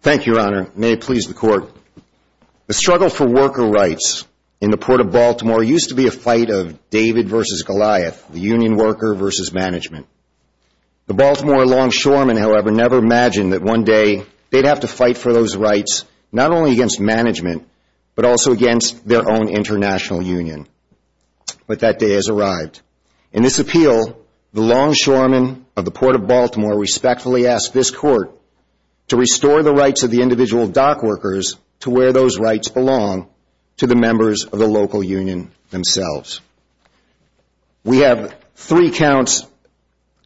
Thank you, Your Honor. May it please the Court. The struggle for worker rights in the Port of Baltimore used to be a fight of David v. Goliath, the union worker v. management. The Baltimore longshoremen, however, never imagined that one day they'd have to fight for those rights, not only against management, but also against their own international union. But that day has arrived. In this appeal, the longshoremen of the Port of Baltimore respectfully ask this Court to restore the rights of the individual dockworkers to where those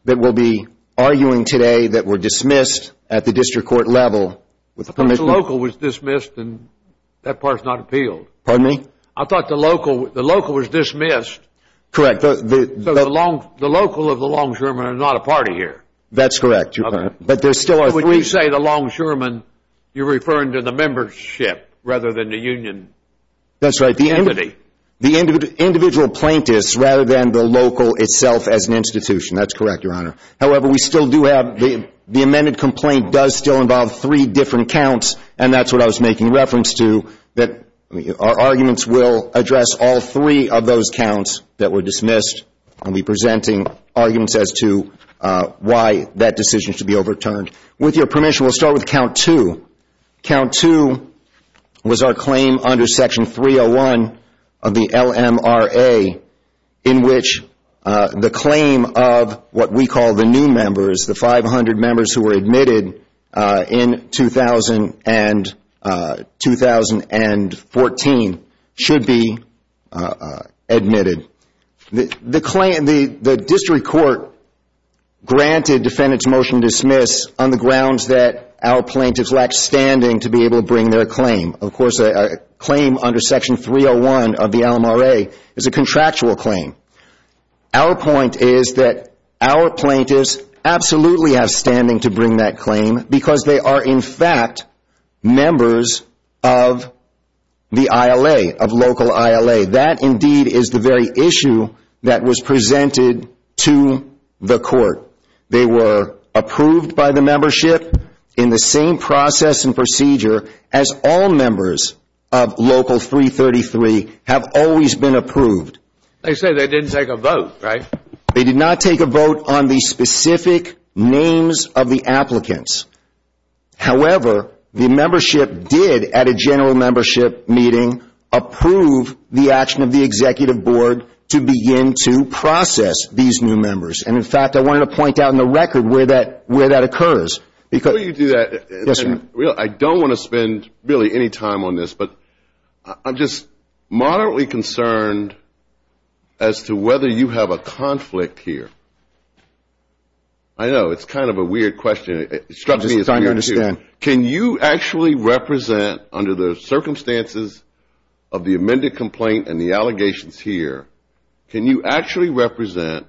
that will be arguing today that were dismissed at the district court level with permission. I thought the local was dismissed and that part is not appealed. Pardon me? I thought the local was dismissed. Correct. So the local of the longshoremen are not a party here. That's correct, Your Honor. But would you say the longshoremen, you're referring to the membership rather than the union? That's right. The individual plaintiffs rather than the local itself as an institution. That's correct, Your Honor. However, the amended complaint does still involve three different counts, and that's what I was making reference to. Our arguments will address all three of those counts that were dismissed. I'll be presenting arguments as to why that decision should be overturned. With your permission, we'll start with count two. Count two was our claim under section 301 of the LMRA in which the claim of what we call the new members, the 500 members who were admitted in 2000 and 2014, should be admitted. The district court granted defendants motion to dismiss on the grounds that our plaintiffs lack standing to be able to bring their claim. Of course, a claim under section 301 of the LMRA is a contractual claim. Our point is that our plaintiffs absolutely have standing to bring that claim because they are in fact members of the ILA, of local ILA. That indeed is the very issue that was presented to the court. They were approved by the membership in the same process and procedure as all members of local 333 have always been approved. They say they didn't take a vote, right? They did not take a vote on the specific names of the applicants. However, the membership did at a general membership meeting approve the action of the executive board to begin to process these new members. And in fact, I wanted to point out in the record where that occurs. Before you do that, I don't want to spend really any time on this, but I'm just moderately concerned as to whether you have a conflict here. I know, it's kind of a weird question. Can you actually represent under the circumstances of the amended complaint and the allegations here, can you actually represent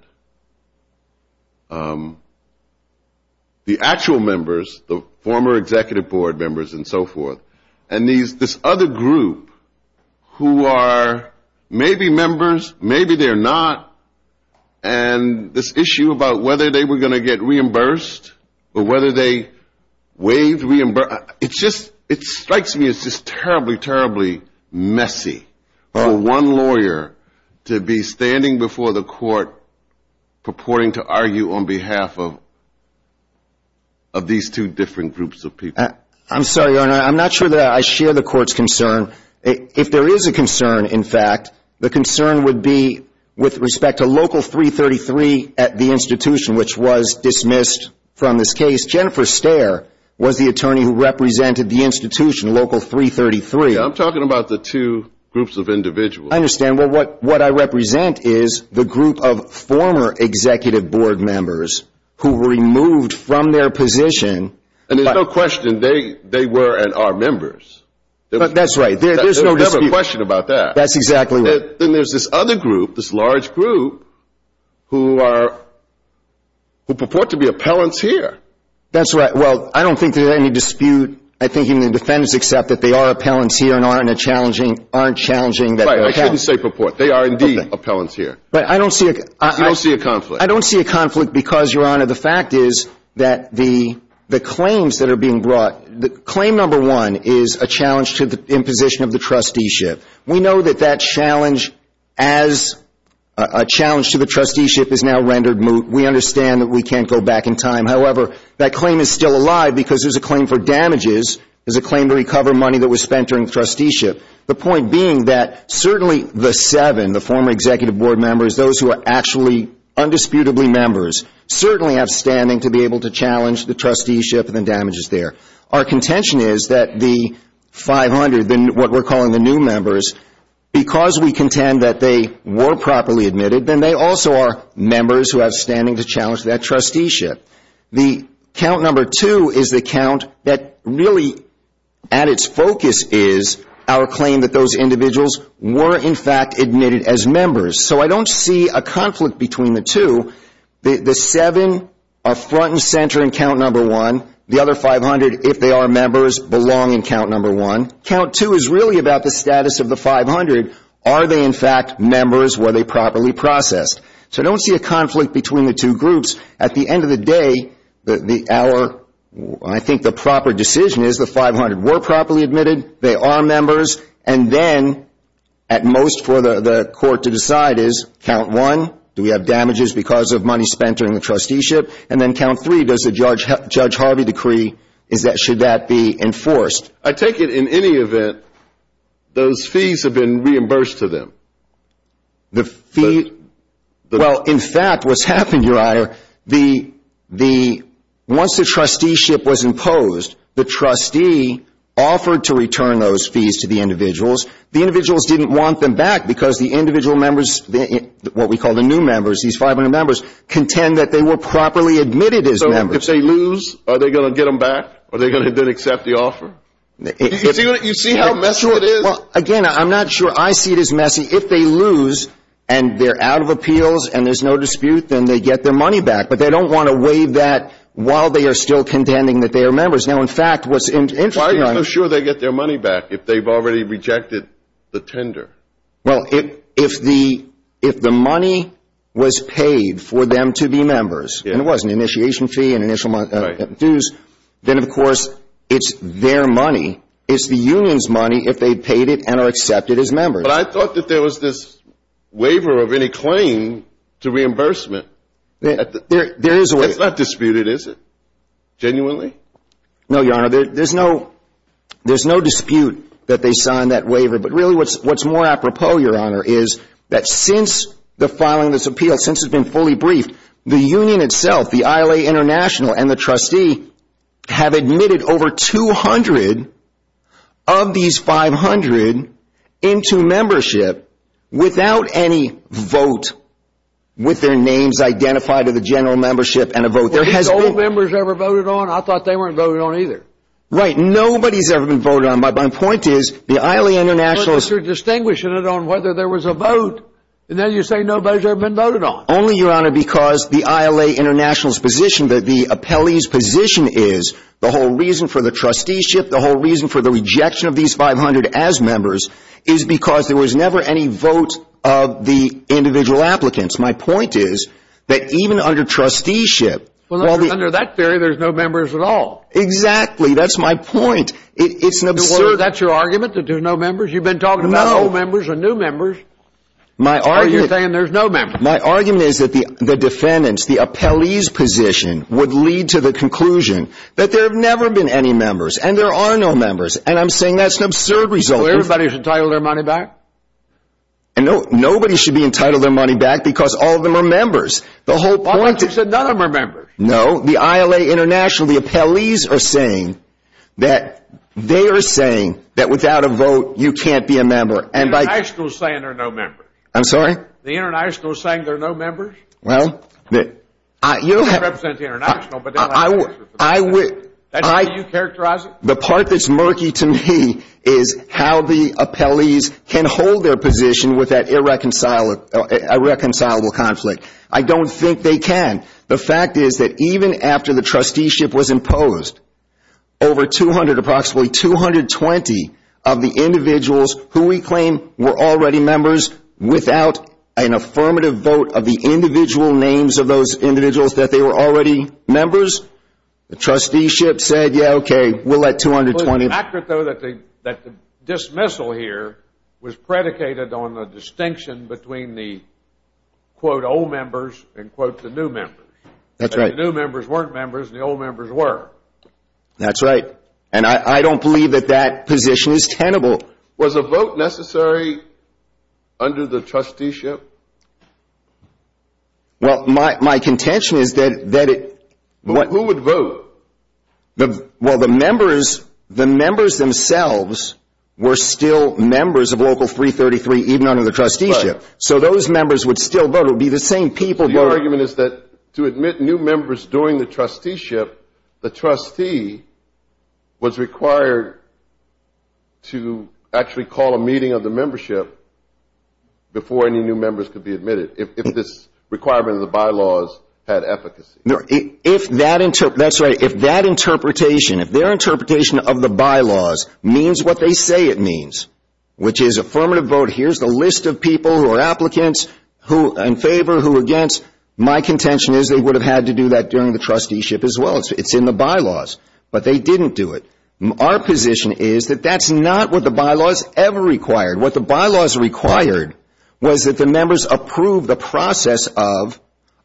the actual members, the former executive board members and so forth, and this other group who are maybe members, maybe they're not, and this issue about whether they were going to get reimbursed or whether they waived reimbursement. It strikes me as just terribly, terribly messy for one lawyer to be standing before the court purporting to argue on behalf of these two different groups of people. I'm sorry, Your Honor, I'm not sure that I share the court's concern. If there is a concern, in fact, the concern would be with respect to Local 333 at the institution which was dismissed from this case. Jennifer Stare was the attorney who represented the institution, Local 333. I'm talking about the two groups of individuals. I understand. Well, what I represent is the group of former executive board members who were removed from their position. And there's no question they were and are members. That's right. There's no dispute. There's no question about that. That's exactly right. Then there's this other group, this large group, who purport to be appellants here. That's right. Well, I don't think there's any dispute. I think even the defendants accept that they are appellants here and aren't challenging that they're appellants. Right, I shouldn't say purport. They are indeed appellants here. But I don't see a conflict. I don't see a conflict because, Your Honor, the fact is that the claims that are being brought, claim number one is a challenge to the imposition of the trusteeship. We know that that challenge as a challenge to the trusteeship is now rendered moot. We understand that we can't go back in time. However, that claim is still alive because there's a claim for damages. There's a claim to recover money that was spent during trusteeship. The point being that certainly the seven, the former executive board members, those who are actually undisputably members, certainly have standing to be able to challenge the trusteeship and the damages there. Our contention is that the 500, what we're calling the new members, because we contend that they were properly admitted, then they also are members who have standing to challenge that trusteeship. The count number two is the count that really, at its focus, is our claim that those individuals were in fact admitted as members. So I don't see a conflict between the two. The seven are front and center in count number one. The other 500, if they are members, belong in count number one. Count two is really about the status of the 500. Are they in fact members? Were they properly processed? So I don't see a conflict between the two groups. At the end of the day, I think the proper decision is the 500 were properly admitted, they are members, and then at most for the court to decide is count one, do we have damages because of money spent during the trusteeship? And then count three, does the Judge Harvey decree, should that be enforced? I take it in any event, those fees have been reimbursed to them? Well, in fact, what's happened, Your Honor, once the trusteeship was imposed, the trustee offered to return those fees to the individuals. The individuals didn't want them back because the individual members, what we call the new members, these 500 members, contend that they were properly admitted as members. So if they lose, are they going to get them back? Are they going to then accept the offer? You see how messy it is? Well, again, I'm not sure I see it as messy. If they lose and they're out of appeals and there's no dispute, then they get their money back. But they don't want to waive that while they are still contending that they are members. Now, in fact, what's interesting... Why are you so sure they get their money back if they've already rejected the tender? Well, if the money was paid for them to be members, and it was an initiation fee and initial dues, then, of course, it's their money. It's the union's money if they paid it and are accepted as members. But I thought that there was this waiver of any claim to reimbursement. There is a waiver. It's not disputed, is it? Genuinely? No, Your Honor. There's no dispute that they signed that waiver. But really, what's more apropos, Your Honor, is that since the filing of this appeal, since it's been fully briefed, the union itself, the ILA International, and the trustee have admitted over 200 of these 500 into membership without any vote with their names identified of the general membership and a vote. Were these old members ever voted on? I thought they weren't voted on either. Right. Nobody's ever been voted on. My point is, the ILA International... But you're distinguishing it on whether there was a vote, and then you say no vote's ever been voted on. Only, Your Honor, because the ILA International's position, that the appellee's position is, the whole reason for the trusteeship, the whole reason for the rejection of these 500 as members, is because there was never any vote of the individual applicants. My point is that even under trusteeship... Well, under that theory, there's no members at all. Exactly. That's my point. It's an absurd... That's your argument, that there's no members? You've been talking about old members and new members. No. Or you're saying there's no members? My argument is that the defendants, the appellee's position, would lead to the conclusion that there have never been any members, and there are no members, and I'm saying that's an absurd result. So everybody's entitled their money back? And nobody should be entitled their money back because all of them are members. The whole point is... I thought you said none of them are members. No. The ILA International, the appellees are saying that they are saying that without a vote, you can't be a member, and by... The International's saying there are no members. I'm sorry? The International's saying there are no members? Well... You don't represent the International, but the ILA International... I would... That's how you characterize it? The part that's murky to me is how the appellees can hold their position with that irreconcilable conflict. I don't think they can. The fact is that even after the trusteeship was imposed, over 200, approximately 220 of the individuals who we claim were already members without an affirmative vote of the individual names of those individuals that they were already members, the trusteeship said, yeah, okay, we'll let 220... It's accurate, though, that the dismissal here was predicated on the distinction between the, quote, old members and, quote, the new members. That's right. The new members weren't members, and the old members were. That's right, and I don't believe that that position is tenable. Was a vote necessary under the trusteeship? Well, my contention is that it... Who would vote? Well, the members themselves were still members of Local 333, even under the trusteeship, so those members would still vote. It would be the same people... So your argument is that to admit new members during the trusteeship, the trustee was required to actually call a meeting of the membership before any new members could be admitted if this requirement of the bylaws had efficacy? That's right. If that interpretation, if their interpretation of the bylaws means what they say it means, which is affirmative vote, here's the list of people who are applicants, who are in favor, who are against, my contention is they would have had to do that during the trusteeship as well. It's in the bylaws, but they didn't do it. Our position is that that's not what the bylaws ever required. What the bylaws required was that the members approve the process of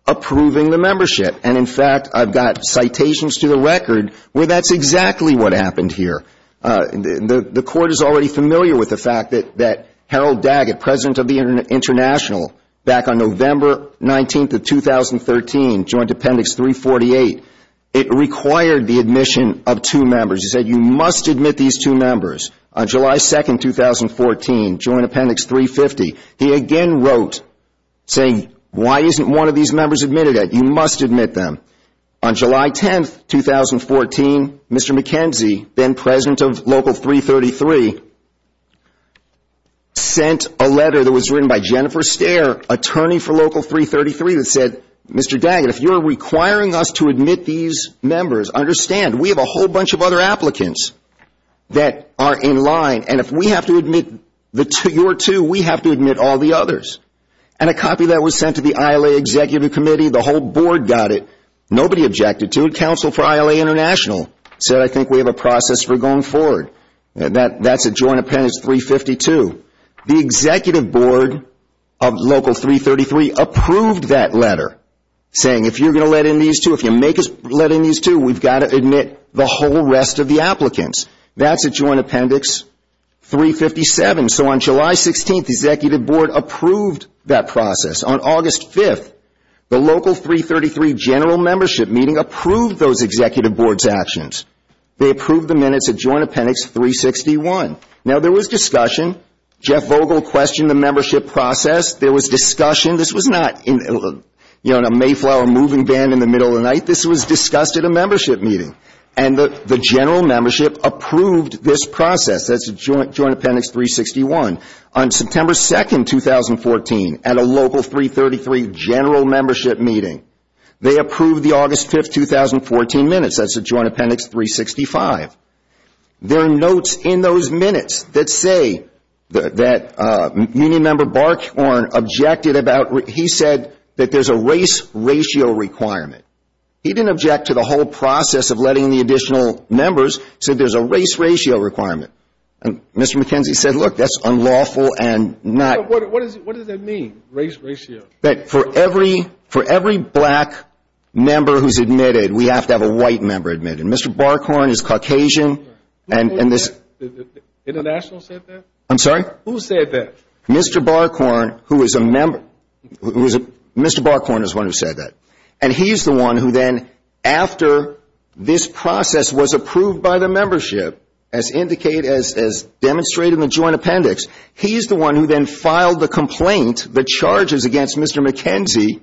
approving the membership, and, in fact, I've got citations to the record where that's exactly what happened here. The Court is already familiar with the fact that Harold Daggett, President of the International, back on November 19th of 2013, joined Appendix 348. It required the admission of two members. It said you must admit these two members. On July 2nd, 2014, joined Appendix 350. He again wrote saying, why isn't one of these members admitted yet? You must admit them. On July 10th, 2014, Mr. McKenzie, then President of Local 333, sent a letter that was written by Jennifer Stare, attorney for Local 333, that said, Mr. Daggett, if you're requiring us to admit these members, understand, we have a whole bunch of other applicants that are in line, and if we have to admit your two, we have to admit all the others. And a copy of that was sent to the ILA Executive Committee. The whole Board got it. Nobody objected to it. Counsel for ILA International said, I think we have a process for going forward. That's at Joined Appendix 352. The Executive Board of Local 333 approved that letter, saying, if you're going to let in these two, if you make us let in these two, we've got to admit the whole rest of the applicants. That's at Joined Appendix 357. And so on July 16th, the Executive Board approved that process. On August 5th, the Local 333 General Membership Meeting approved those Executive Board's actions. They approved the minutes at Joined Appendix 361. Now, there was discussion. Jeff Vogel questioned the membership process. There was discussion. This was not in a Mayflower moving band in the middle of the night. This was discussed at a membership meeting. And the General Membership approved this process. That's at Joined Appendix 361. On September 2nd, 2014, at a Local 333 General Membership Meeting, they approved the August 5th, 2014 minutes. That's at Joined Appendix 365. There are notes in those minutes that say that Union Member Barkhorn objected about, he said that there's a race ratio requirement. He didn't object to the whole process of letting in the additional members, said there's a race ratio requirement. And Mr. McKenzie said, look, that's unlawful and not. What does that mean, race ratio? For every black member who's admitted, we have to have a white member admitted. Mr. Barkhorn is Caucasian. Who said that? International said that? I'm sorry? Who said that? Mr. Barkhorn, who is a member. Mr. Barkhorn is the one who said that. And he's the one who then, after this process was approved by the membership, as demonstrated in the Joined Appendix, he's the one who then filed the complaint, the charges against Mr. McKenzie,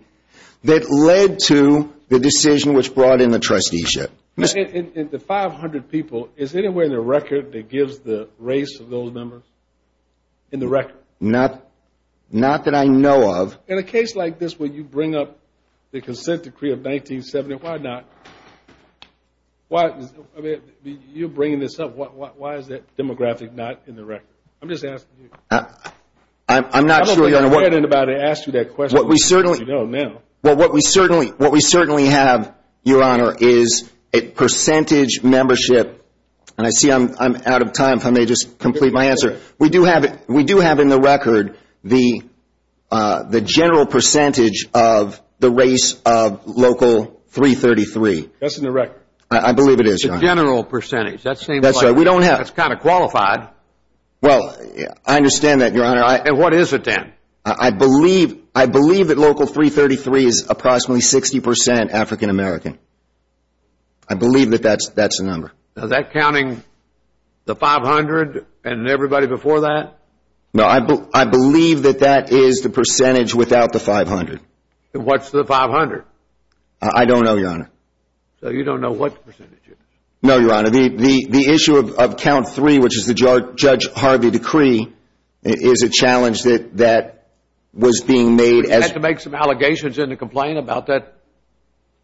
that led to the decision which brought in the trusteeship. The 500 people, is there anywhere in the record that gives the race of those members? In the record? Not that I know of. In a case like this where you bring up the Consent Decree of 1970, why not? You're bringing this up. Why is that demographic not in the record? I'm just asking you. I'm not sure. I don't think anybody asked you that question. Well, what we certainly have, Your Honor, is a percentage membership. And I see I'm out of time, if I may just complete my answer. We do have in the record the general percentage of the race of Local 333. That's in the record? I believe it is, Your Honor. The general percentage. That seems like it's kind of qualified. Well, I understand that, Your Honor. And what is it then? I believe that Local 333 is approximately 60% African American. I believe that that's the number. Is that counting the 500 and everybody before that? No, I believe that that is the percentage without the 500. What's the 500? I don't know, Your Honor. So you don't know what the percentage is? No, Your Honor. The issue of Count 3, which is the Judge Harvey Decree, is a challenge that was being made. You had to make some allegations in the complaint about that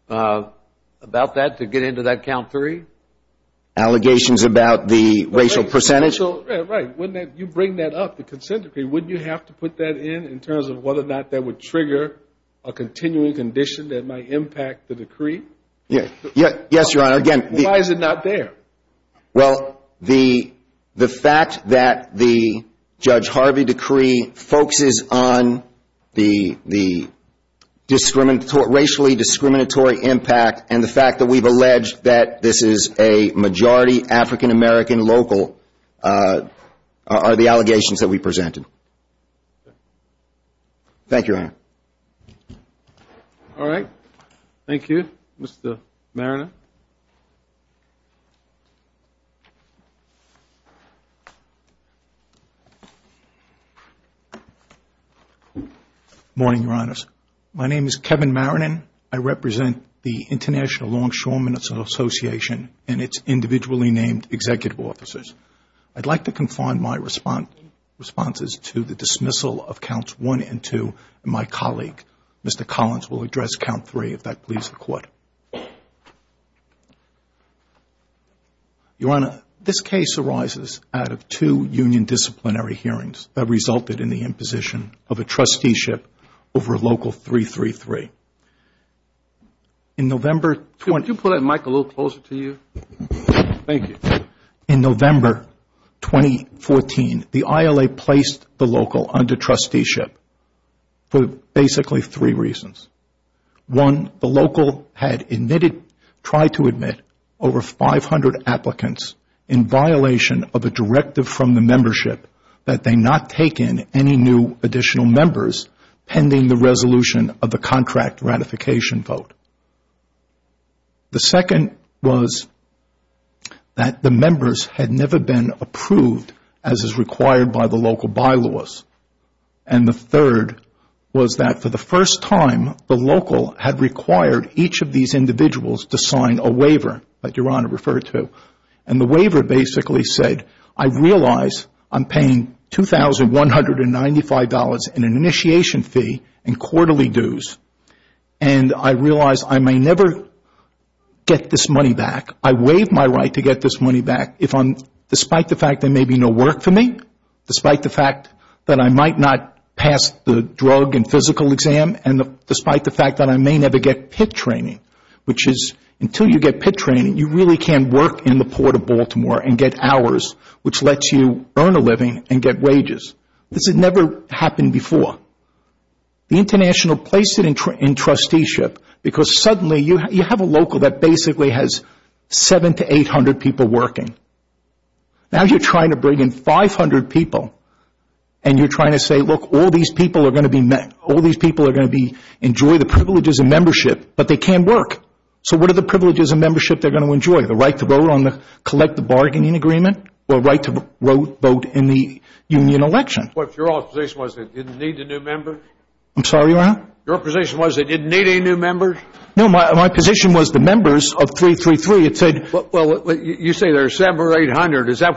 to get into that Count 3? Allegations about the racial percentage? Right. You bring that up, the consent decree. Wouldn't you have to put that in in terms of whether or not that would trigger a continuing condition that might impact the decree? Yes, Your Honor. Why is it not there? Well, the fact that the Judge Harvey Decree focuses on the racially discriminatory impact and the fact that we've alleged that this is a majority African American local are the allegations that we presented. Thank you, Your Honor. All right. Thank you. Mr. Maronin. Morning, Your Honors. My name is Kevin Maronin. I represent the International Longshoreman Association and its individually named executive officers. I'd like to confine my responses to the dismissal of Counts 1 and 2 and my colleague, Mr. Collins, will address Count 3 if that pleases the Court. Your Honor, this case arises out of two union disciplinary hearings that resulted in the imposition of a trusteeship over Local 333. Could you put that mic a little closer to you? Thank you. In November 2014, the ILA placed the local under trusteeship for basically three reasons. One, the local had tried to admit over 500 applicants in violation of a directive from the membership that they not take in any new additional members pending the resolution of the contract ratification vote. The second was that the members had never been approved as is required by the local bylaws. And the third was that for the first time, the local had required each of these individuals to sign a waiver that Your Honor referred to. And the waiver basically said, I realize I'm paying $2,195 in an initiation fee and quarterly dues and I realize I may never get this money back. I waive my right to get this money back despite the fact there may be no work for me, despite the fact that I might not pass the drug and physical exam, and despite the fact that I may never get PIT training, which is until you get PIT training, you really can't work in the Port of Baltimore and get hours, which lets you earn a living and get wages. This had never happened before. The international placed it in trusteeship because suddenly you have a local that basically has 700 to 800 people working. Now you're trying to bring in 500 people and you're trying to say, look, all these people are going to be met. All these people are going to enjoy the privileges of membership, but they can't work. So what are the privileges of membership they're going to enjoy? The right to vote on the collective bargaining agreement or right to vote in the union election? Your position was they didn't need a new member? I'm sorry, Your Honor? Your position was they didn't need any new members? No, my position was the members of 333. Well, you say there are 700 or 800. Is that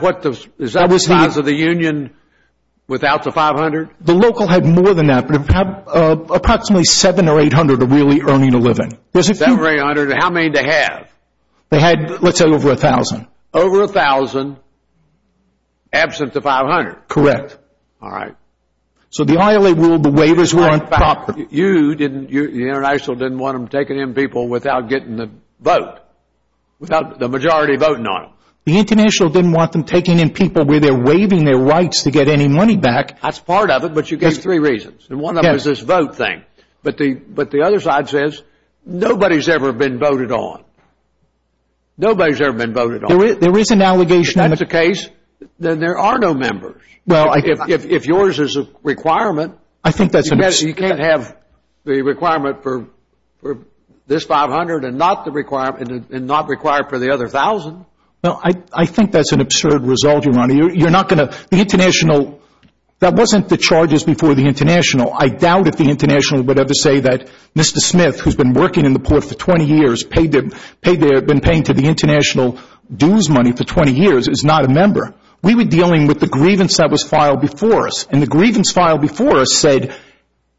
the size of the union without the 500? The local had more than that, but approximately 700 or 800 are really earning a living. 700 or 800. How many did they have? They had, let's say, over 1,000. Over 1,000 absent the 500? Correct. All right. So the ILA ruled the waivers weren't proper. You didn't, the international didn't want them taking in people without getting the vote, without the majority voting on them. The international didn't want them taking in people where they're waiving their rights to get any money back. That's part of it, but you gave three reasons. And one of them is this vote thing. But the other side says nobody's ever been voted on. Nobody's ever been voted on. There is an allegation. If that's the case, then there are no members. If yours is a requirement, you can't have the requirement for this 500 and not require it for the other 1,000. I think that's an absurd result, Your Honor. You're not going to, the international, that wasn't the charges before the international. I doubt if the international would ever say that Mr. Smith, who's been working in the port for 20 years, been paying to the international dues money for 20 years, is not a member. We were dealing with the grievance that was filed before us. And the grievance filed before us said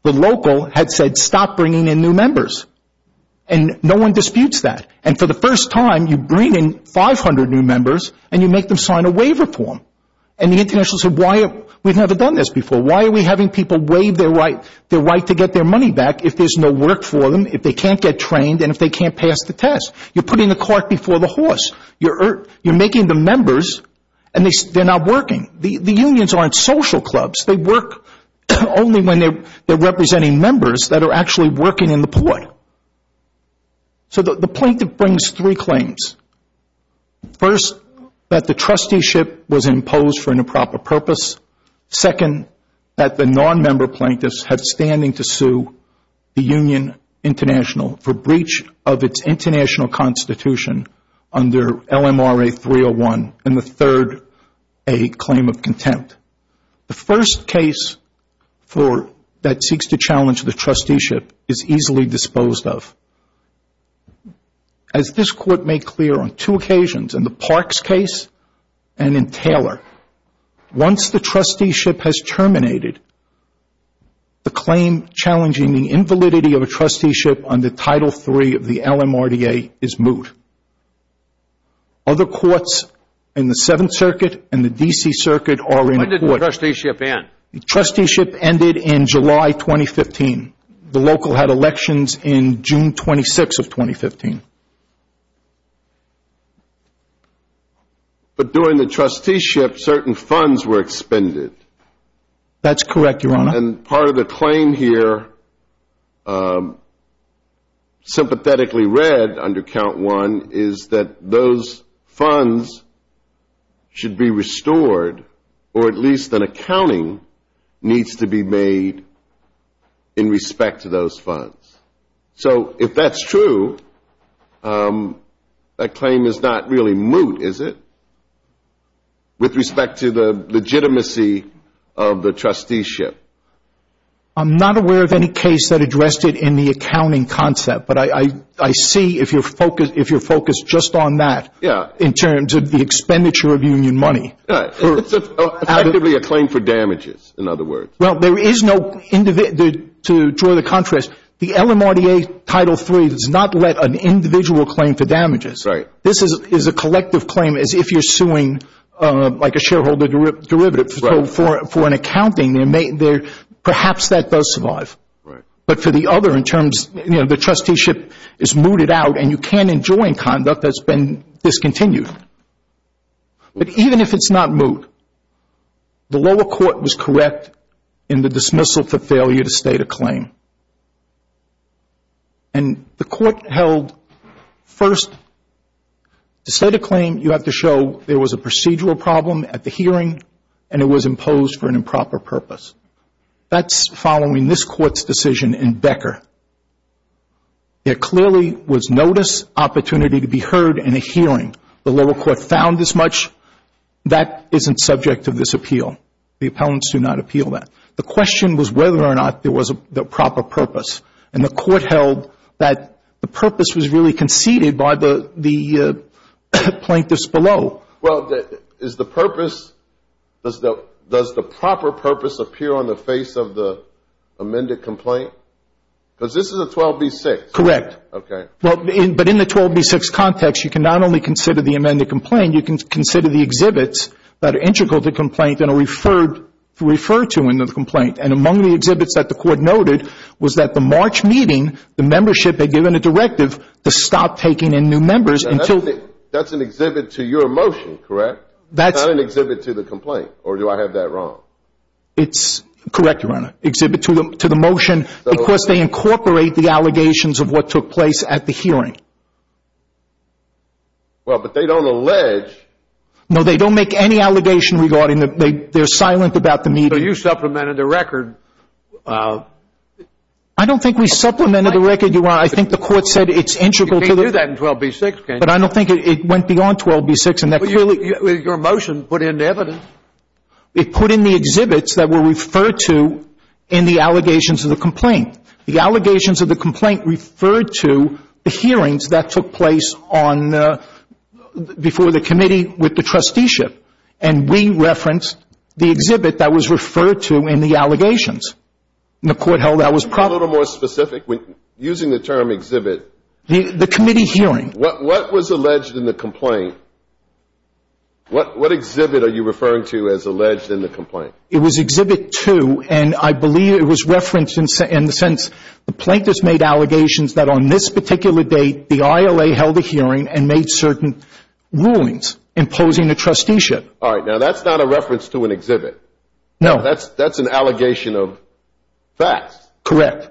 the local had said stop bringing in new members. And no one disputes that. And for the first time, you bring in 500 new members and you make them sign a waiver form. And the international said, why, we've never done this before. Why are we having people waive their right to get their money back if there's no work for them, if they can't get trained, and if they can't pass the test? You're putting the cart before the horse. You're making them members and they're not working. The unions aren't social clubs. They work only when they're representing members that are actually working in the port. So the plaintiff brings three claims. First, that the trusteeship was imposed for an improper purpose. Second, that the non-member plaintiffs have standing to sue the Union International for breach of its international constitution under LMRA 301. And the third, a claim of contempt. The first case that seeks to challenge the trusteeship is easily disposed of. As this court made clear on two occasions, in the Parks case and in Taylor, once the trusteeship has terminated, the claim challenging the invalidity of a trusteeship under Title III of the LMRA is moot. Other courts in the Seventh Circuit and the D.C. Circuit are in court. When did the trusteeship end? The trusteeship ended in July 2015. The local had elections in June 26 of 2015. But during the trusteeship, certain funds were expended. That's correct, Your Honor. And part of the claim here, sympathetically read under Count I, is that those funds should be restored, or at least an accounting needs to be made in respect to those funds. So if that's true, that claim is not really moot, is it, with respect to the legitimacy of the trusteeship? I'm not aware of any case that addressed it in the accounting concept, but I see if you're focused just on that in terms of the expenditure of union money. It's effectively a claim for damages, in other words. Well, there is no individual, to draw the contrast, the LMRA Title III does not let an individual claim for damages. This is a collective claim as if you're suing like a shareholder derivative. For an accounting, perhaps that does survive. But for the other in terms, you know, the trusteeship is mooted out, and you can't enjoin conduct that's been discontinued. But even if it's not moot, the lower court was correct in the dismissal for failure to state a claim. And the court held, first, to state a claim, you have to show there was a procedural problem at the hearing, and it was imposed for an improper purpose. That's following this court's decision in Becker. There clearly was notice, opportunity to be heard, and a hearing. The lower court found this much. That isn't subject to this appeal. The appellants do not appeal that. The question was whether or not there was a proper purpose, and the court held that the purpose was really conceded by the plaintiffs below. Well, is the purpose, does the proper purpose appear on the face of the amended complaint? Because this is a 12B6. Correct. Okay. But in the 12B6 context, you can not only consider the amended complaint, you can consider the exhibits that are integral to the complaint and are referred to in the complaint. And among the exhibits that the court noted was that the March meeting, the membership had given a directive to stop taking in new members. That's an exhibit to your motion, correct? That's not an exhibit to the complaint, or do I have that wrong? It's correct, Your Honor. Exhibit to the motion because they incorporate the allegations of what took place at the hearing. Well, but they don't allege. No, they don't make any allegation regarding it. They're silent about the meeting. So you supplemented the record. I don't think we supplemented the record, Your Honor. I think the court said it's integral to the. 12B6 case. But I don't think it went beyond 12B6. Your motion put in evidence. It put in the exhibits that were referred to in the allegations of the complaint. The allegations of the complaint referred to the hearings that took place on, before the committee with the trusteeship, and we referenced the exhibit that was referred to in the allegations. And the court held that was proper. A little more specific, using the term exhibit. The committee hearing. What was alleged in the complaint? What exhibit are you referring to as alleged in the complaint? It was exhibit two, and I believe it was referenced in the sense, the plaintiffs made allegations that on this particular date, the ILA held a hearing and made certain rulings imposing the trusteeship. All right. Now that's not a reference to an exhibit. No. That's an allegation of facts. Correct.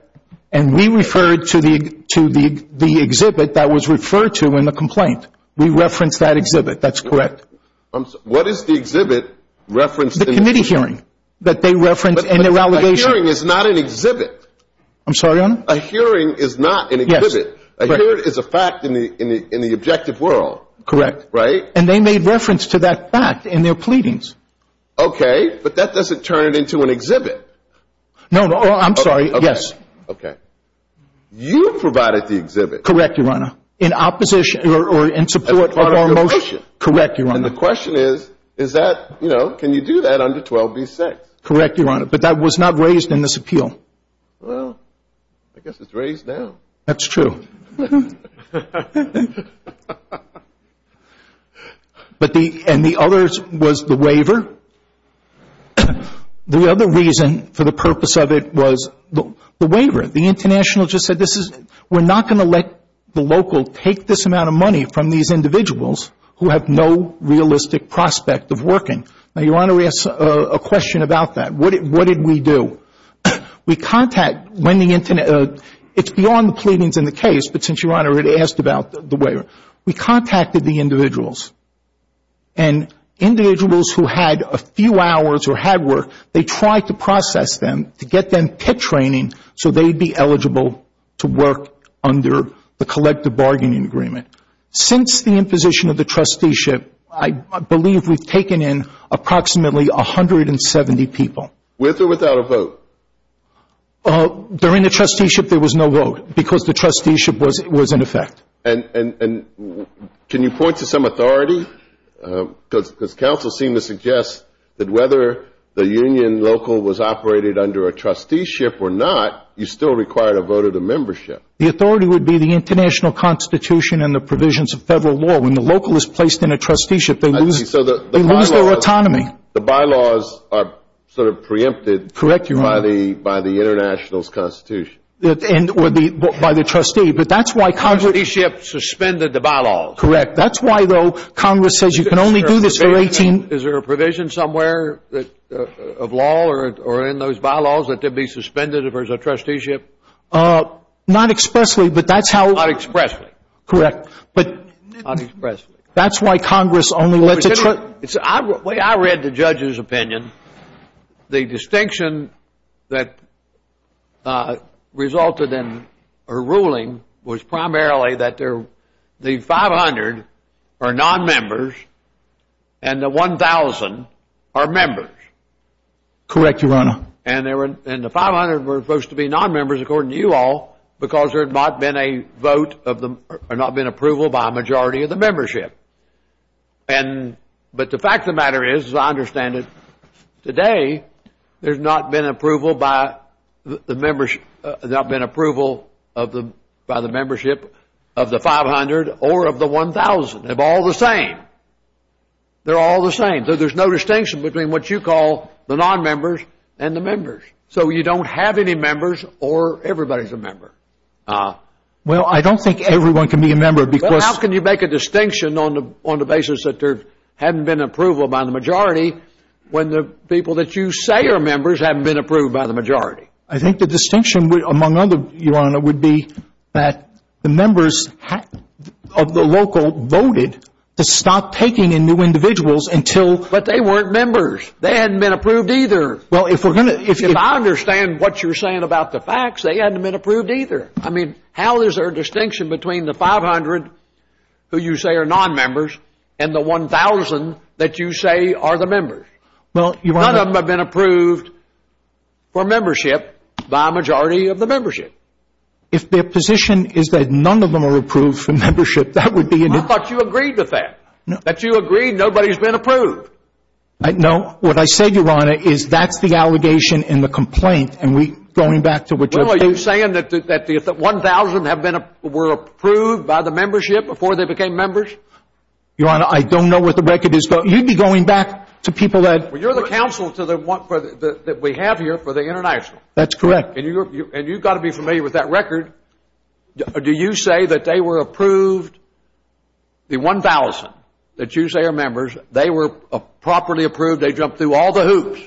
And we referred to the exhibit that was referred to in the complaint. We referenced that exhibit. That's correct. What is the exhibit referenced in the? The committee hearing that they referenced in their allegations. But a hearing is not an exhibit. I'm sorry, Your Honor? A hearing is not an exhibit. Yes. A hearing is a fact in the objective world. Correct. Right? And they made reference to that fact in their pleadings. Okay. But that doesn't turn it into an exhibit. No. I'm sorry. Yes. Okay. You provided the exhibit. Correct, Your Honor. In opposition or in support of our motion. Correct, Your Honor. And the question is, is that, you know, can you do that under 12B6? Correct, Your Honor. But that was not raised in this appeal. That's true. And the other was the waiver. The other reason for the purpose of it was the waiver. The international just said this is, we're not going to let the local take this amount of money from these individuals who have no realistic prospect of working. Now, Your Honor, we asked a question about that. What did we do? We contacted when the, it's beyond the pleadings in the case, but since Your Honor had asked about the waiver. We contacted the individuals. And individuals who had a few hours or had work, they tried to process them to get them pit training so they'd be eligible to work under the collective bargaining agreement. Since the imposition of the trusteeship, I believe we've taken in approximately 170 people. With or without a vote? During the trusteeship, there was no vote because the trusteeship was in effect. And can you point to some authority? Because counsel seemed to suggest that whether the union local was operated under a trusteeship or not, you still required a vote of the membership. The authority would be the international constitution and the provisions of federal law. When the local is placed in a trusteeship, they lose their autonomy. The bylaws are sort of preempted by the international's constitution. By the trustee. But that's why Congress. Trusteeship suspended the bylaws. Correct. That's why, though, Congress says you can only do this for 18. Is there a provision somewhere of law or in those bylaws that they'd be suspended if there's a trusteeship? Not expressly, but that's how. Not expressly. Correct. But. Not expressly. That's why Congress only lets a. The way I read the judge's opinion, the distinction that resulted in a ruling was primarily that the 500 are non-members and the 1,000 are members. Correct, Your Honor. And the 500 were supposed to be non-members, according to you all, because there had not been approval by a majority of the membership. But the fact of the matter is, as I understand it, today there's not been approval by the membership of the 500 or of the 1,000. They're all the same. They're all the same. There's no distinction between what you call the non-members and the members. So you don't have any members or everybody's a member. Well, I don't think everyone can be a member because. Well, how can you make a distinction on the basis that there hadn't been approval by the majority when the people that you say are members haven't been approved by the majority? I think the distinction among others, Your Honor, would be that the members of the local voted to stop taking in new individuals until. But they weren't members. They hadn't been approved either. Well, if we're going to. If I understand what you're saying about the facts, they hadn't been approved either. I mean, how is there a distinction between the 500 who you say are non-members and the 1,000 that you say are the members? None of them have been approved for membership by a majority of the membership. If their position is that none of them are approved for membership, that would be. I thought you agreed with that, that you agreed nobody's been approved. No. What I said, Your Honor, is that's the allegation in the complaint. Well, are you saying that the 1,000 were approved by the membership before they became members? Your Honor, I don't know what the record is, but you'd be going back to people that... Well, you're the counsel that we have here for the international. That's correct. And you've got to be familiar with that record. Do you say that they were approved, the 1,000 that you say are members, they were properly approved, they jumped through all the hoops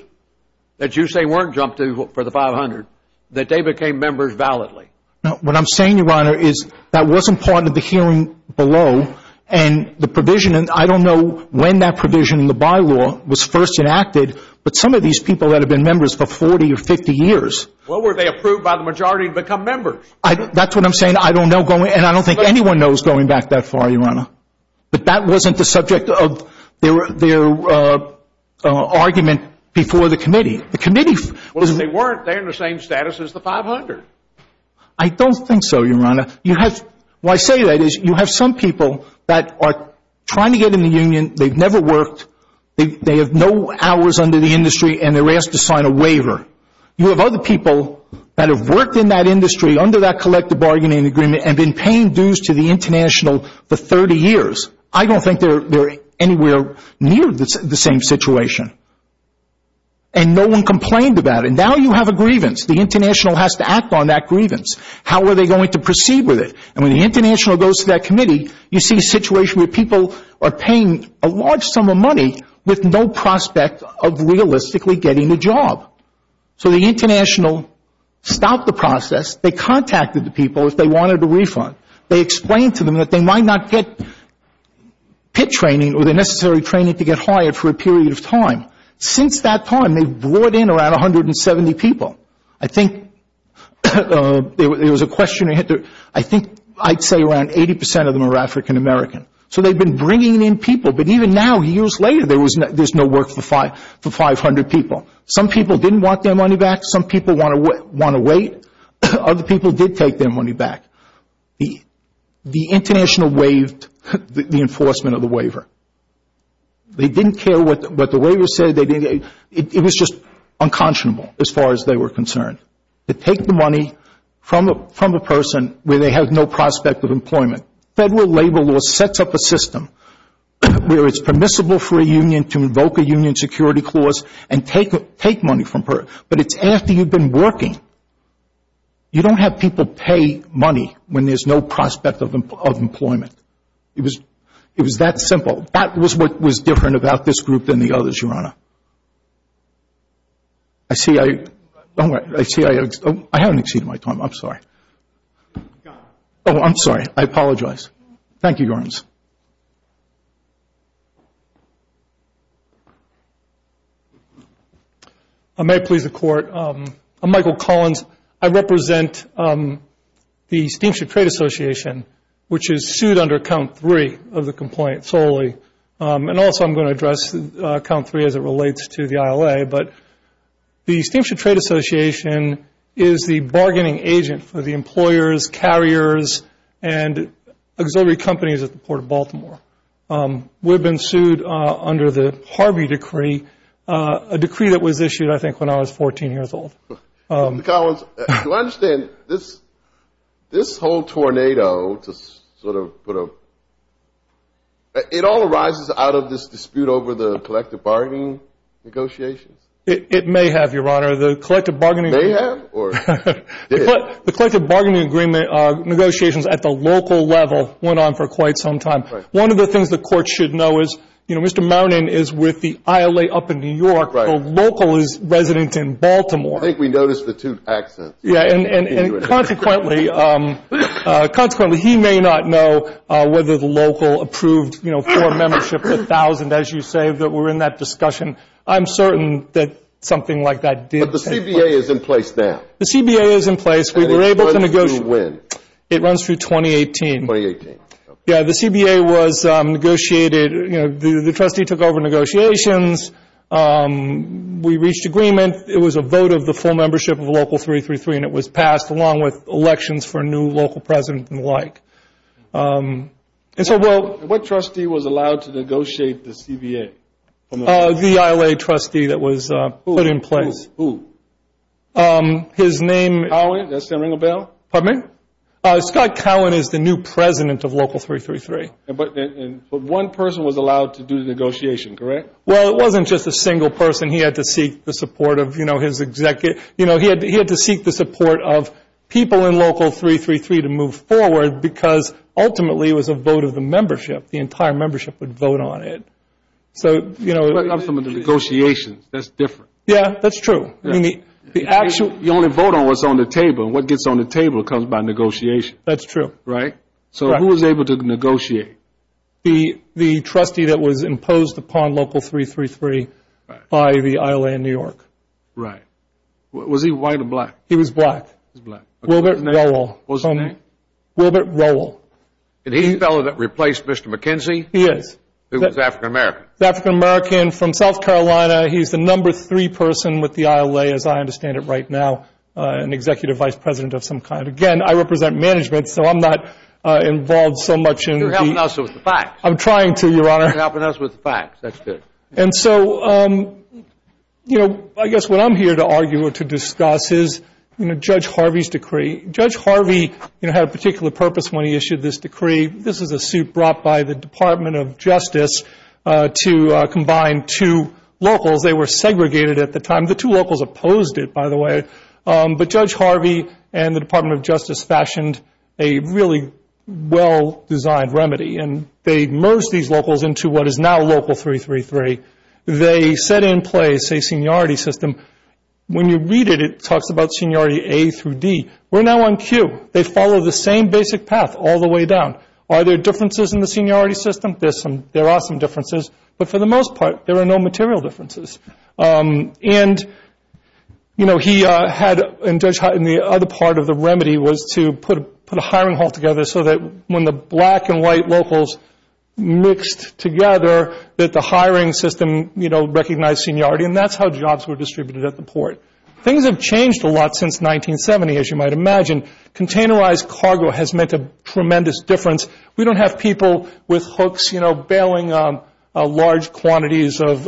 that you say weren't jumped through for the 500, that they became members validly? No. What I'm saying, Your Honor, is that wasn't part of the hearing below. And the provision, and I don't know when that provision in the bylaw was first enacted, but some of these people that have been members for 40 or 50 years... Well, were they approved by the majority to become members? That's what I'm saying. I don't know. And I don't think anyone knows going back that far, Your Honor. But that wasn't the subject of their argument before the committee. The committee... Well, they weren't. They're in the same status as the 500. I don't think so, Your Honor. Why I say that is you have some people that are trying to get in the union. They've never worked. They have no hours under the industry, and they're asked to sign a waiver. You have other people that have worked in that industry under that collective bargaining agreement and been paying dues to the international for 30 years. I don't think they're anywhere near the same situation. And no one complained about it. Now you have a grievance. The international has to act on that grievance. How are they going to proceed with it? And when the international goes to that committee, you see a situation where people are paying a large sum of money with no prospect of realistically getting a job. So the international stopped the process. They contacted the people if they wanted a refund. They explained to them that they might not get pit training or the necessary training to get hired for a period of time. Since that time, they've brought in around 170 people. I think there was a questionnaire. I think I'd say around 80% of them are African American. So they've been bringing in people. But even now, years later, there's no work for 500 people. Some people didn't want their money back. Some people want to wait. Other people did take their money back. The international waived the enforcement of the waiver. They didn't care what the waiver said. It was just unconscionable, as far as they were concerned, to take the money from a person where they have no prospect of employment. Federal labor law sets up a system where it's permissible for a union to invoke a union security clause and take money from her. But it's after you've been working. You don't have people pay money when there's no prospect of employment. It was that simple. That was what was different about this group than the others, Your Honor. I see I haven't exceeded my time. I'm sorry. Oh, I'm sorry. I apologize. Thank you, Your Honors. I may please the Court. I'm Michael Collins. I represent the Steamship Trade Association, which is sued under Count 3 of the complaint solely. And also I'm going to address Count 3 as it relates to the ILA. But the Steamship Trade Association is the bargaining agent for the employers, carriers, and auxiliary companies at the Port of Baltimore. We've been sued under the Harvey Decree, a decree that was issued I think when I was 14 years old. Collins, do I understand this whole tornado to sort of put a – it all arises out of this dispute over the collective bargaining negotiations? It may have, Your Honor. The collective bargaining – May have or did? The collective bargaining agreement negotiations at the local level went on for quite some time. Right. One of the things the Court should know is, you know, Mr. Mounin is with the ILA up in New York. Right. The local is resident in Baltimore. I think we noticed the two accents. Yeah. And consequently, he may not know whether the local approved, you know, for a membership of 1,000, as you say, that were in that discussion. I'm certain that something like that did take place. But the CBA is in place now. The CBA is in place. We were able to negotiate – And it runs to when? It runs through 2018. 2018. Yeah. The CBA was negotiated. You know, the trustee took over negotiations. We reached agreement. It was a vote of the full membership of Local 333, and it was passed along with elections for a new local president and the like. What trustee was allowed to negotiate the CBA? The ILA trustee that was put in place. Who? His name – Cowan. Does that ring a bell? Pardon me? Scott Cowan is the new president of Local 333. But one person was allowed to do the negotiation, correct? Well, it wasn't just a single person. He had to seek the support of, you know, his executive – you know, he had to seek the support of people in Local 333 to move forward because ultimately it was a vote of the membership. The entire membership would vote on it. So, you know – I'm talking about the negotiations. That's different. Yeah, that's true. I mean, the actual – You only vote on what's on the table. What gets on the table comes by negotiation. That's true. Right? So who was able to negotiate? The trustee that was imposed upon Local 333 by the ILA in New York. Right. Was he white or black? He was black. He was black. What was his name? Wilbert Rowell. What was his name? Wilbert Rowell. And he's the fellow that replaced Mr. McKenzie? He is. Who was African-American? He was African-American from South Carolina. He's the number three person with the ILA, as I understand it right now, an executive vice president of some kind. Again, I represent management, so I'm not involved so much in the – You're helping us with the facts. I'm trying to, Your Honor. You're helping us with the facts. That's good. And so, you know, I guess what I'm here to argue or to discuss is, you know, Judge Harvey's decree. Judge Harvey, you know, had a particular purpose when he issued this decree. This is a suit brought by the Department of Justice to combine two locals. They were segregated at the time. The two locals opposed it, by the way. But Judge Harvey and the Department of Justice fashioned a really well-designed remedy, and they merged these locals into what is now Local 333. They set in place a seniority system. When you read it, it talks about seniority A through D. We're now on Q. They follow the same basic path all the way down. Are there differences in the seniority system? There are some differences. But for the most part, there are no material differences. And, you know, he had – and the other part of the remedy was to put a hiring hall together so that when the black and white locals mixed together that the hiring system, you know, recognized seniority, and that's how jobs were distributed at the port. Things have changed a lot since 1970, as you might imagine. Containerized cargo has made a tremendous difference. We don't have people with hooks, you know, bailing on large quantities of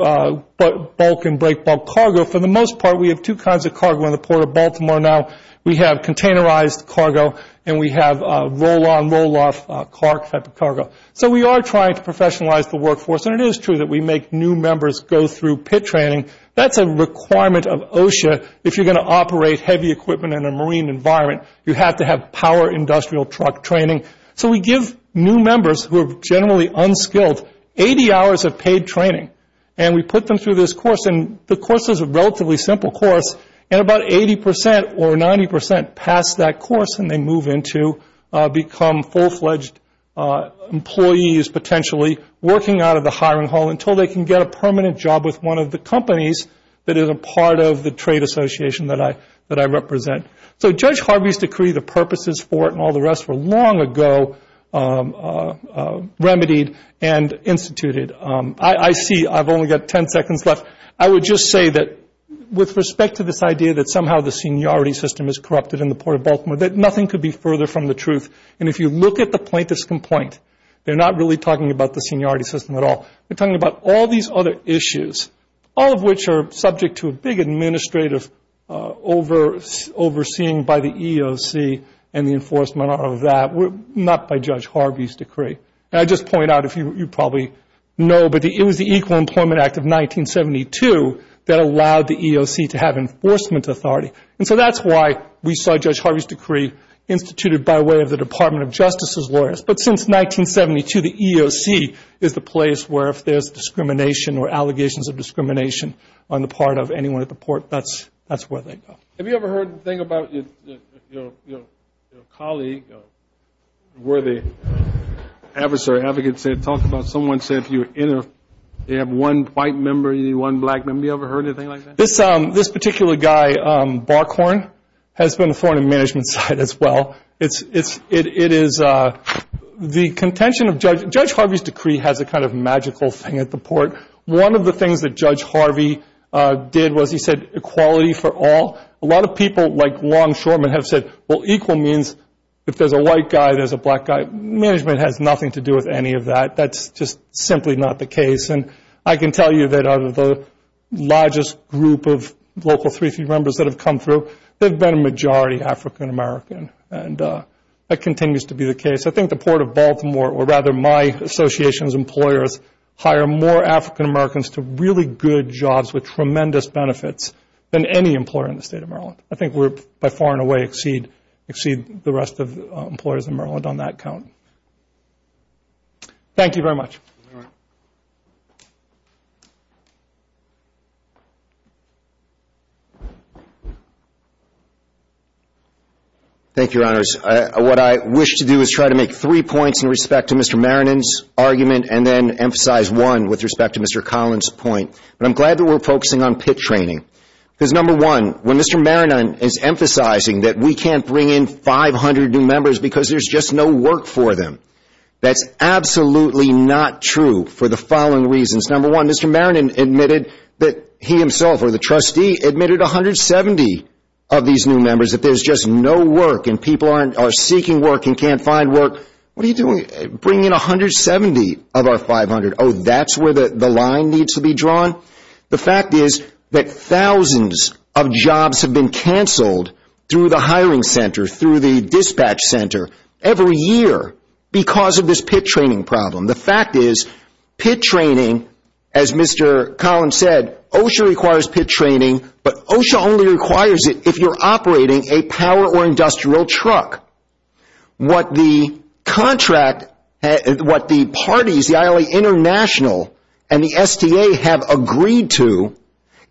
bulk and break-bulk cargo. For the most part, we have two kinds of cargo in the Port of Baltimore now. We have containerized cargo, and we have roll-on, roll-off type of cargo. So we are trying to professionalize the workforce, and it is true that we make new members go through pit training. That's a requirement of OSHA if you're going to operate heavy equipment in a marine environment. You have to have power industrial truck training. So we give new members who are generally unskilled 80 hours of paid training, and we put them through this course, and the course is a relatively simple course, and about 80% or 90% pass that course and they move into – become full-fledged employees potentially working out of the hiring hall until they can get a permanent job with one of the companies that is a part of the trade association that I represent. So Judge Harvey's decree, the purposes for it and all the rest were long ago remedied and instituted. I see I've only got 10 seconds left. I would just say that with respect to this idea that somehow the seniority system is corrupted in the Port of Baltimore, that nothing could be further from the truth. And if you look at the plaintiff's complaint, they're not really talking about the seniority system at all. They're talking about all these other issues, all of which are subject to a big administrative overseeing by the EEOC and the enforcement of that, not by Judge Harvey's decree. And I'd just point out, you probably know, but it was the Equal Employment Act of 1972 that allowed the EEOC to have enforcement authority. And so that's why we saw Judge Harvey's decree instituted by way of the Department of Justice's lawyers. But since 1972, the EEOC is the place where if there's discrimination or allegations of discrimination on the part of anyone at the port, that's where they go. Have you ever heard a thing about your colleague, where the advocate said, talked about someone said if you have one white member, you need one black member. Have you ever heard anything like that? This particular guy, Barkhorn, has been on the foreign management side as well. It is the contention of Judge Harvey's decree has a kind of magical thing at the port. One of the things that Judge Harvey did was he said equality for all. A lot of people, like Long Shorman, have said, well, equal means if there's a white guy, there's a black guy. Management has nothing to do with any of that. That's just simply not the case. And I can tell you that out of the largest group of local 3C members that have come through, they've been a majority African American, and that continues to be the case. I think the Port of Baltimore, or rather my association's employers, hire more African Americans to really good jobs with tremendous benefits than any employer in the state of Maryland. I think we're by far and away exceed the rest of employers in Maryland on that count. Thank you very much. All right. Thank you, Your Honors. What I wish to do is try to make three points in respect to Mr. Maronin's argument and then emphasize one with respect to Mr. Collins' point. But I'm glad that we're focusing on PITT training because, number one, when Mr. Maronin is emphasizing that we can't bring in 500 new members because there's just no work for them, that's absolutely not true for the following reasons. Number one, Mr. Maronin admitted that he himself, or the trustee, admitted 170 of these new members that there's just no work and people are seeking work and can't find work. What are you doing bringing in 170 of our 500? Oh, that's where the line needs to be drawn? The fact is that thousands of jobs have been canceled through the hiring center, through the dispatch center, every year because of this PITT training problem. The fact is PITT training, as Mr. Collins said, OSHA requires PITT training, but OSHA only requires it if you're operating a power or industrial truck. What the contract, what the parties, the ILA International and the STA, have agreed to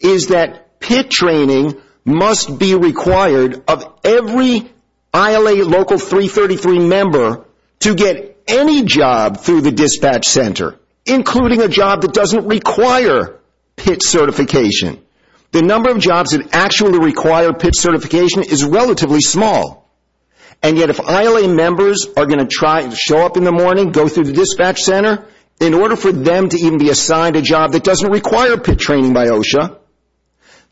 is that PITT training must be required of every ILA Local 333 member to get any job through the dispatch center, including a job that doesn't require PITT certification. The number of jobs that actually require PITT certification is relatively small, and yet if ILA members are going to show up in the morning, go through the dispatch center, in order for them to even be assigned a job that doesn't require PITT training by OSHA,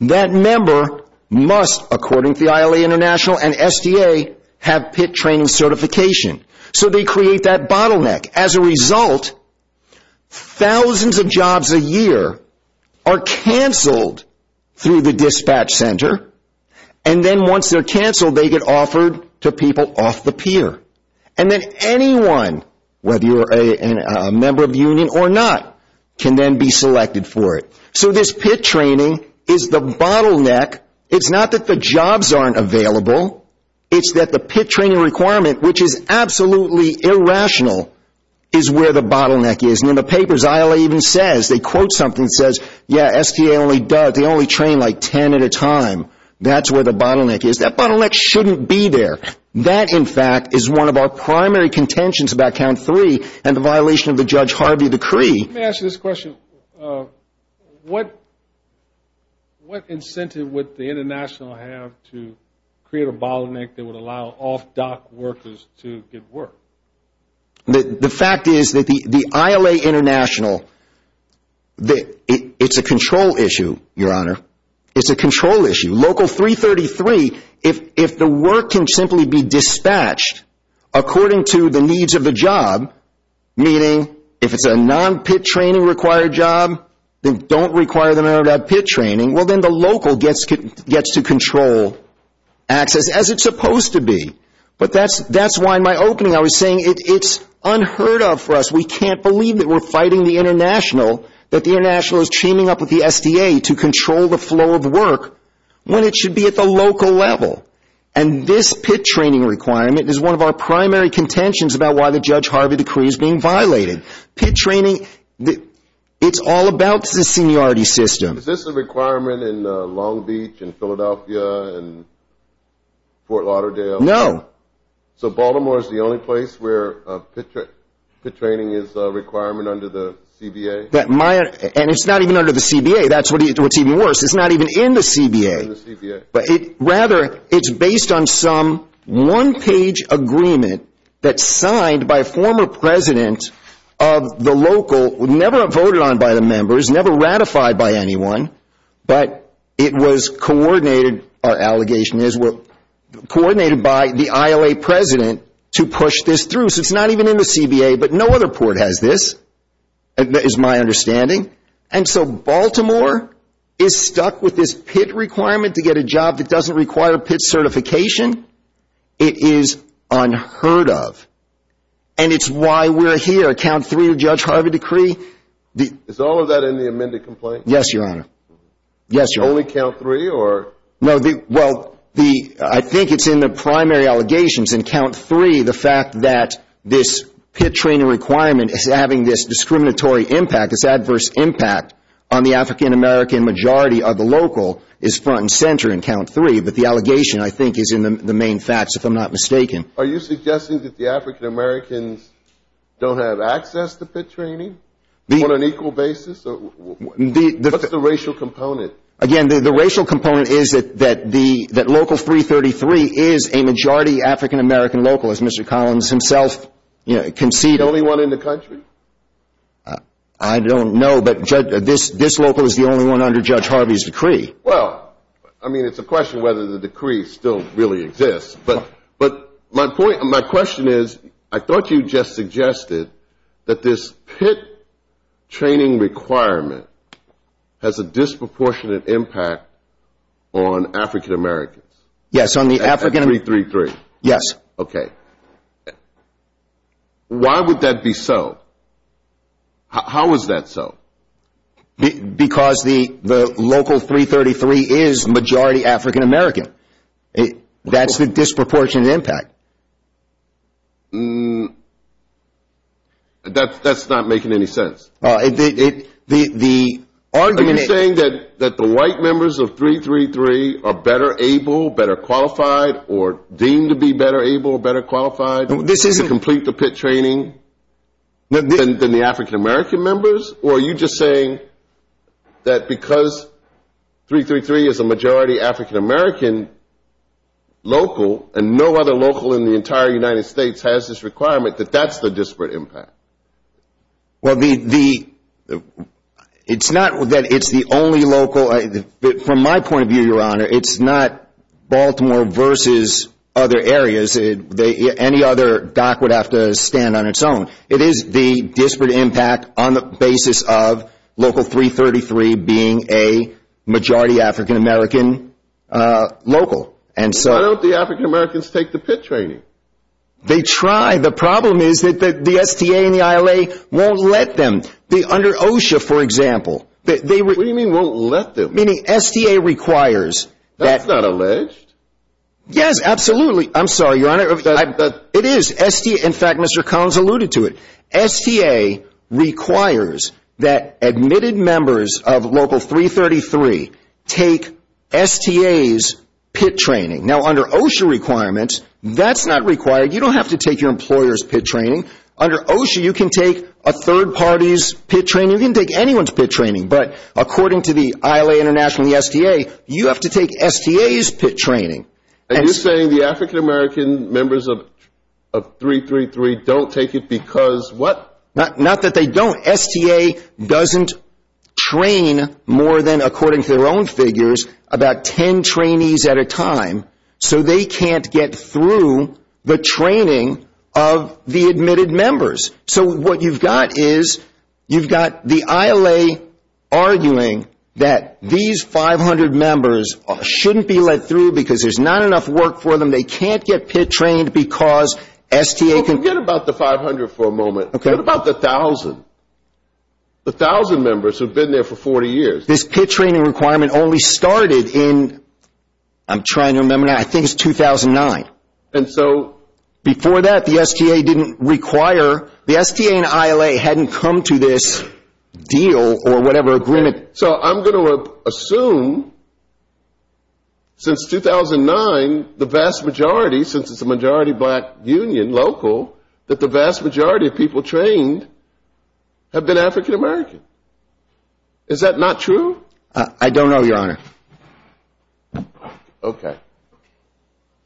that member must, according to the ILA International and STA, have PITT training certification. So they create that bottleneck. As a result, thousands of jobs a year are canceled through the dispatch center, and then once they're canceled, they get offered to people off the pier. And then anyone, whether you're a member of the union or not, can then be selected for it. So this PITT training is the bottleneck. It's not that the jobs aren't available. It's that the PITT training requirement, which is absolutely irrational, is where the bottleneck is. And in the papers, ILA even says, they quote something that says, yeah, STA only does, they only train like 10 at a time. That's where the bottleneck is. That bottleneck shouldn't be there. That, in fact, is one of our primary contentions about Count 3 and the violation of the Judge Harvey decree. Let me ask you this question. What incentive would the International have to create a bottleneck that would allow off-dock workers to get work? The fact is that the ILA International, it's a control issue, Your Honor. It's a control issue. Local 333, if the work can simply be dispatched according to the needs of the job, meaning if it's a non-PITT training required job, then don't require the member to have PITT training, well, then the local gets to control access as it's supposed to be. But that's why in my opening I was saying it's unheard of for us. We can't believe that we're fighting the International, that the International is teaming up with the STA to control the flow of work when it should be at the local level. And this PITT training requirement is one of our primary contentions about why the Judge Harvey decree is being violated. PITT training, it's all about the seniority system. Is this a requirement in Long Beach and Philadelphia and Fort Lauderdale? No. So Baltimore is the only place where PITT training is a requirement under the CBA? And it's not even under the CBA. That's what's even worse. It's not even in the CBA. Rather, it's based on some one-page agreement that's signed by a former president of the local, never voted on by the members, never ratified by anyone. But it was coordinated, our allegation is, coordinated by the ILA president to push this through. So it's not even in the CBA. But no other port has this, is my understanding. And so Baltimore is stuck with this PITT requirement to get a job that doesn't require PITT certification. It is unheard of. And it's why we're here. Count three of the Judge Harvey decree. Is all of that in the amended complaint? Yes, Your Honor. Yes, Your Honor. Only count three? No, well, I think it's in the primary allegations. In count three, the fact that this PITT training requirement is having this discriminatory impact, this adverse impact on the African-American majority of the local is front and center in count three. But the allegation, I think, is in the main facts, if I'm not mistaken. Are you suggesting that the African-Americans don't have access to PITT training on an equal basis? What's the racial component? Again, the racial component is that local 333 is a majority African-American local, as Mr. Collins himself conceded. The only one in the country? I don't know. But this local is the only one under Judge Harvey's decree. Well, I mean, it's a question whether the decree still really exists. But my question is, I thought you just suggested that this PITT training requirement has a disproportionate impact on African-Americans. Yes, on the African- At 333. Yes. Okay. Why would that be so? How is that so? Because the local 333 is majority African-American. That's the disproportionate impact. That's not making any sense. The argument is- Are you saying that the white members of 333 are better able, better qualified, or deemed to be better able, better qualified- This isn't- Than the African-American members? Or are you just saying that because 333 is a majority African-American local, and no other local in the entire United States has this requirement, that that's the disparate impact? Well, it's not that it's the only local. From my point of view, Your Honor, it's not Baltimore versus other areas. Any other dock would have to stand on its own. It is the disparate impact on the basis of local 333 being a majority African-American local. Why don't the African-Americans take the PITT training? They try. The problem is that the STA and the ILA won't let them. Under OSHA, for example- What do you mean won't let them? Meaning STA requires that- That's not alleged. Yes, absolutely. I'm sorry, Your Honor. It is. In fact, Mr. Collins alluded to it. STA requires that admitted members of local 333 take STA's PITT training. Now, under OSHA requirements, that's not required. You don't have to take your employer's PITT training. Under OSHA, you can take a third party's PITT training. You can take anyone's PITT training. But according to the ILA International and the STA, you have to take STA's PITT training. Are you saying the African-American members of 333 don't take it because what? Not that they don't. STA doesn't train more than, according to their own figures, about 10 trainees at a time. So they can't get through the training of the admitted members. So what you've got is you've got the ILA arguing that these 500 members shouldn't be let through because there's not enough work for them. They can't get PITT trained because STA- Forget about the 500 for a moment. Okay. What about the 1,000? The 1,000 members who have been there for 40 years. This PITT training requirement only started in, I'm trying to remember now, I think it's 2009. And so- The STA and ILA hadn't come to this deal or whatever agreement- So I'm going to assume since 2009, the vast majority, since it's a majority black union, local, that the vast majority of people trained have been African-American. Is that not true? I don't know, Your Honor. Okay.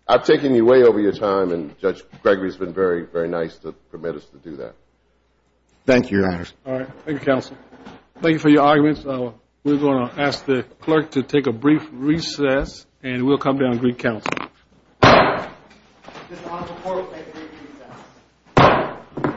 I've taken you way over your time, and Judge Gregory has been very, very nice to permit us to do that. Thank you, Your Honor. All right. Thank you, counsel. Thank you for your arguments. We're going to ask the clerk to take a brief recess, and we'll come down and greet counsel. Mr. Honorable Court, I agree to recess.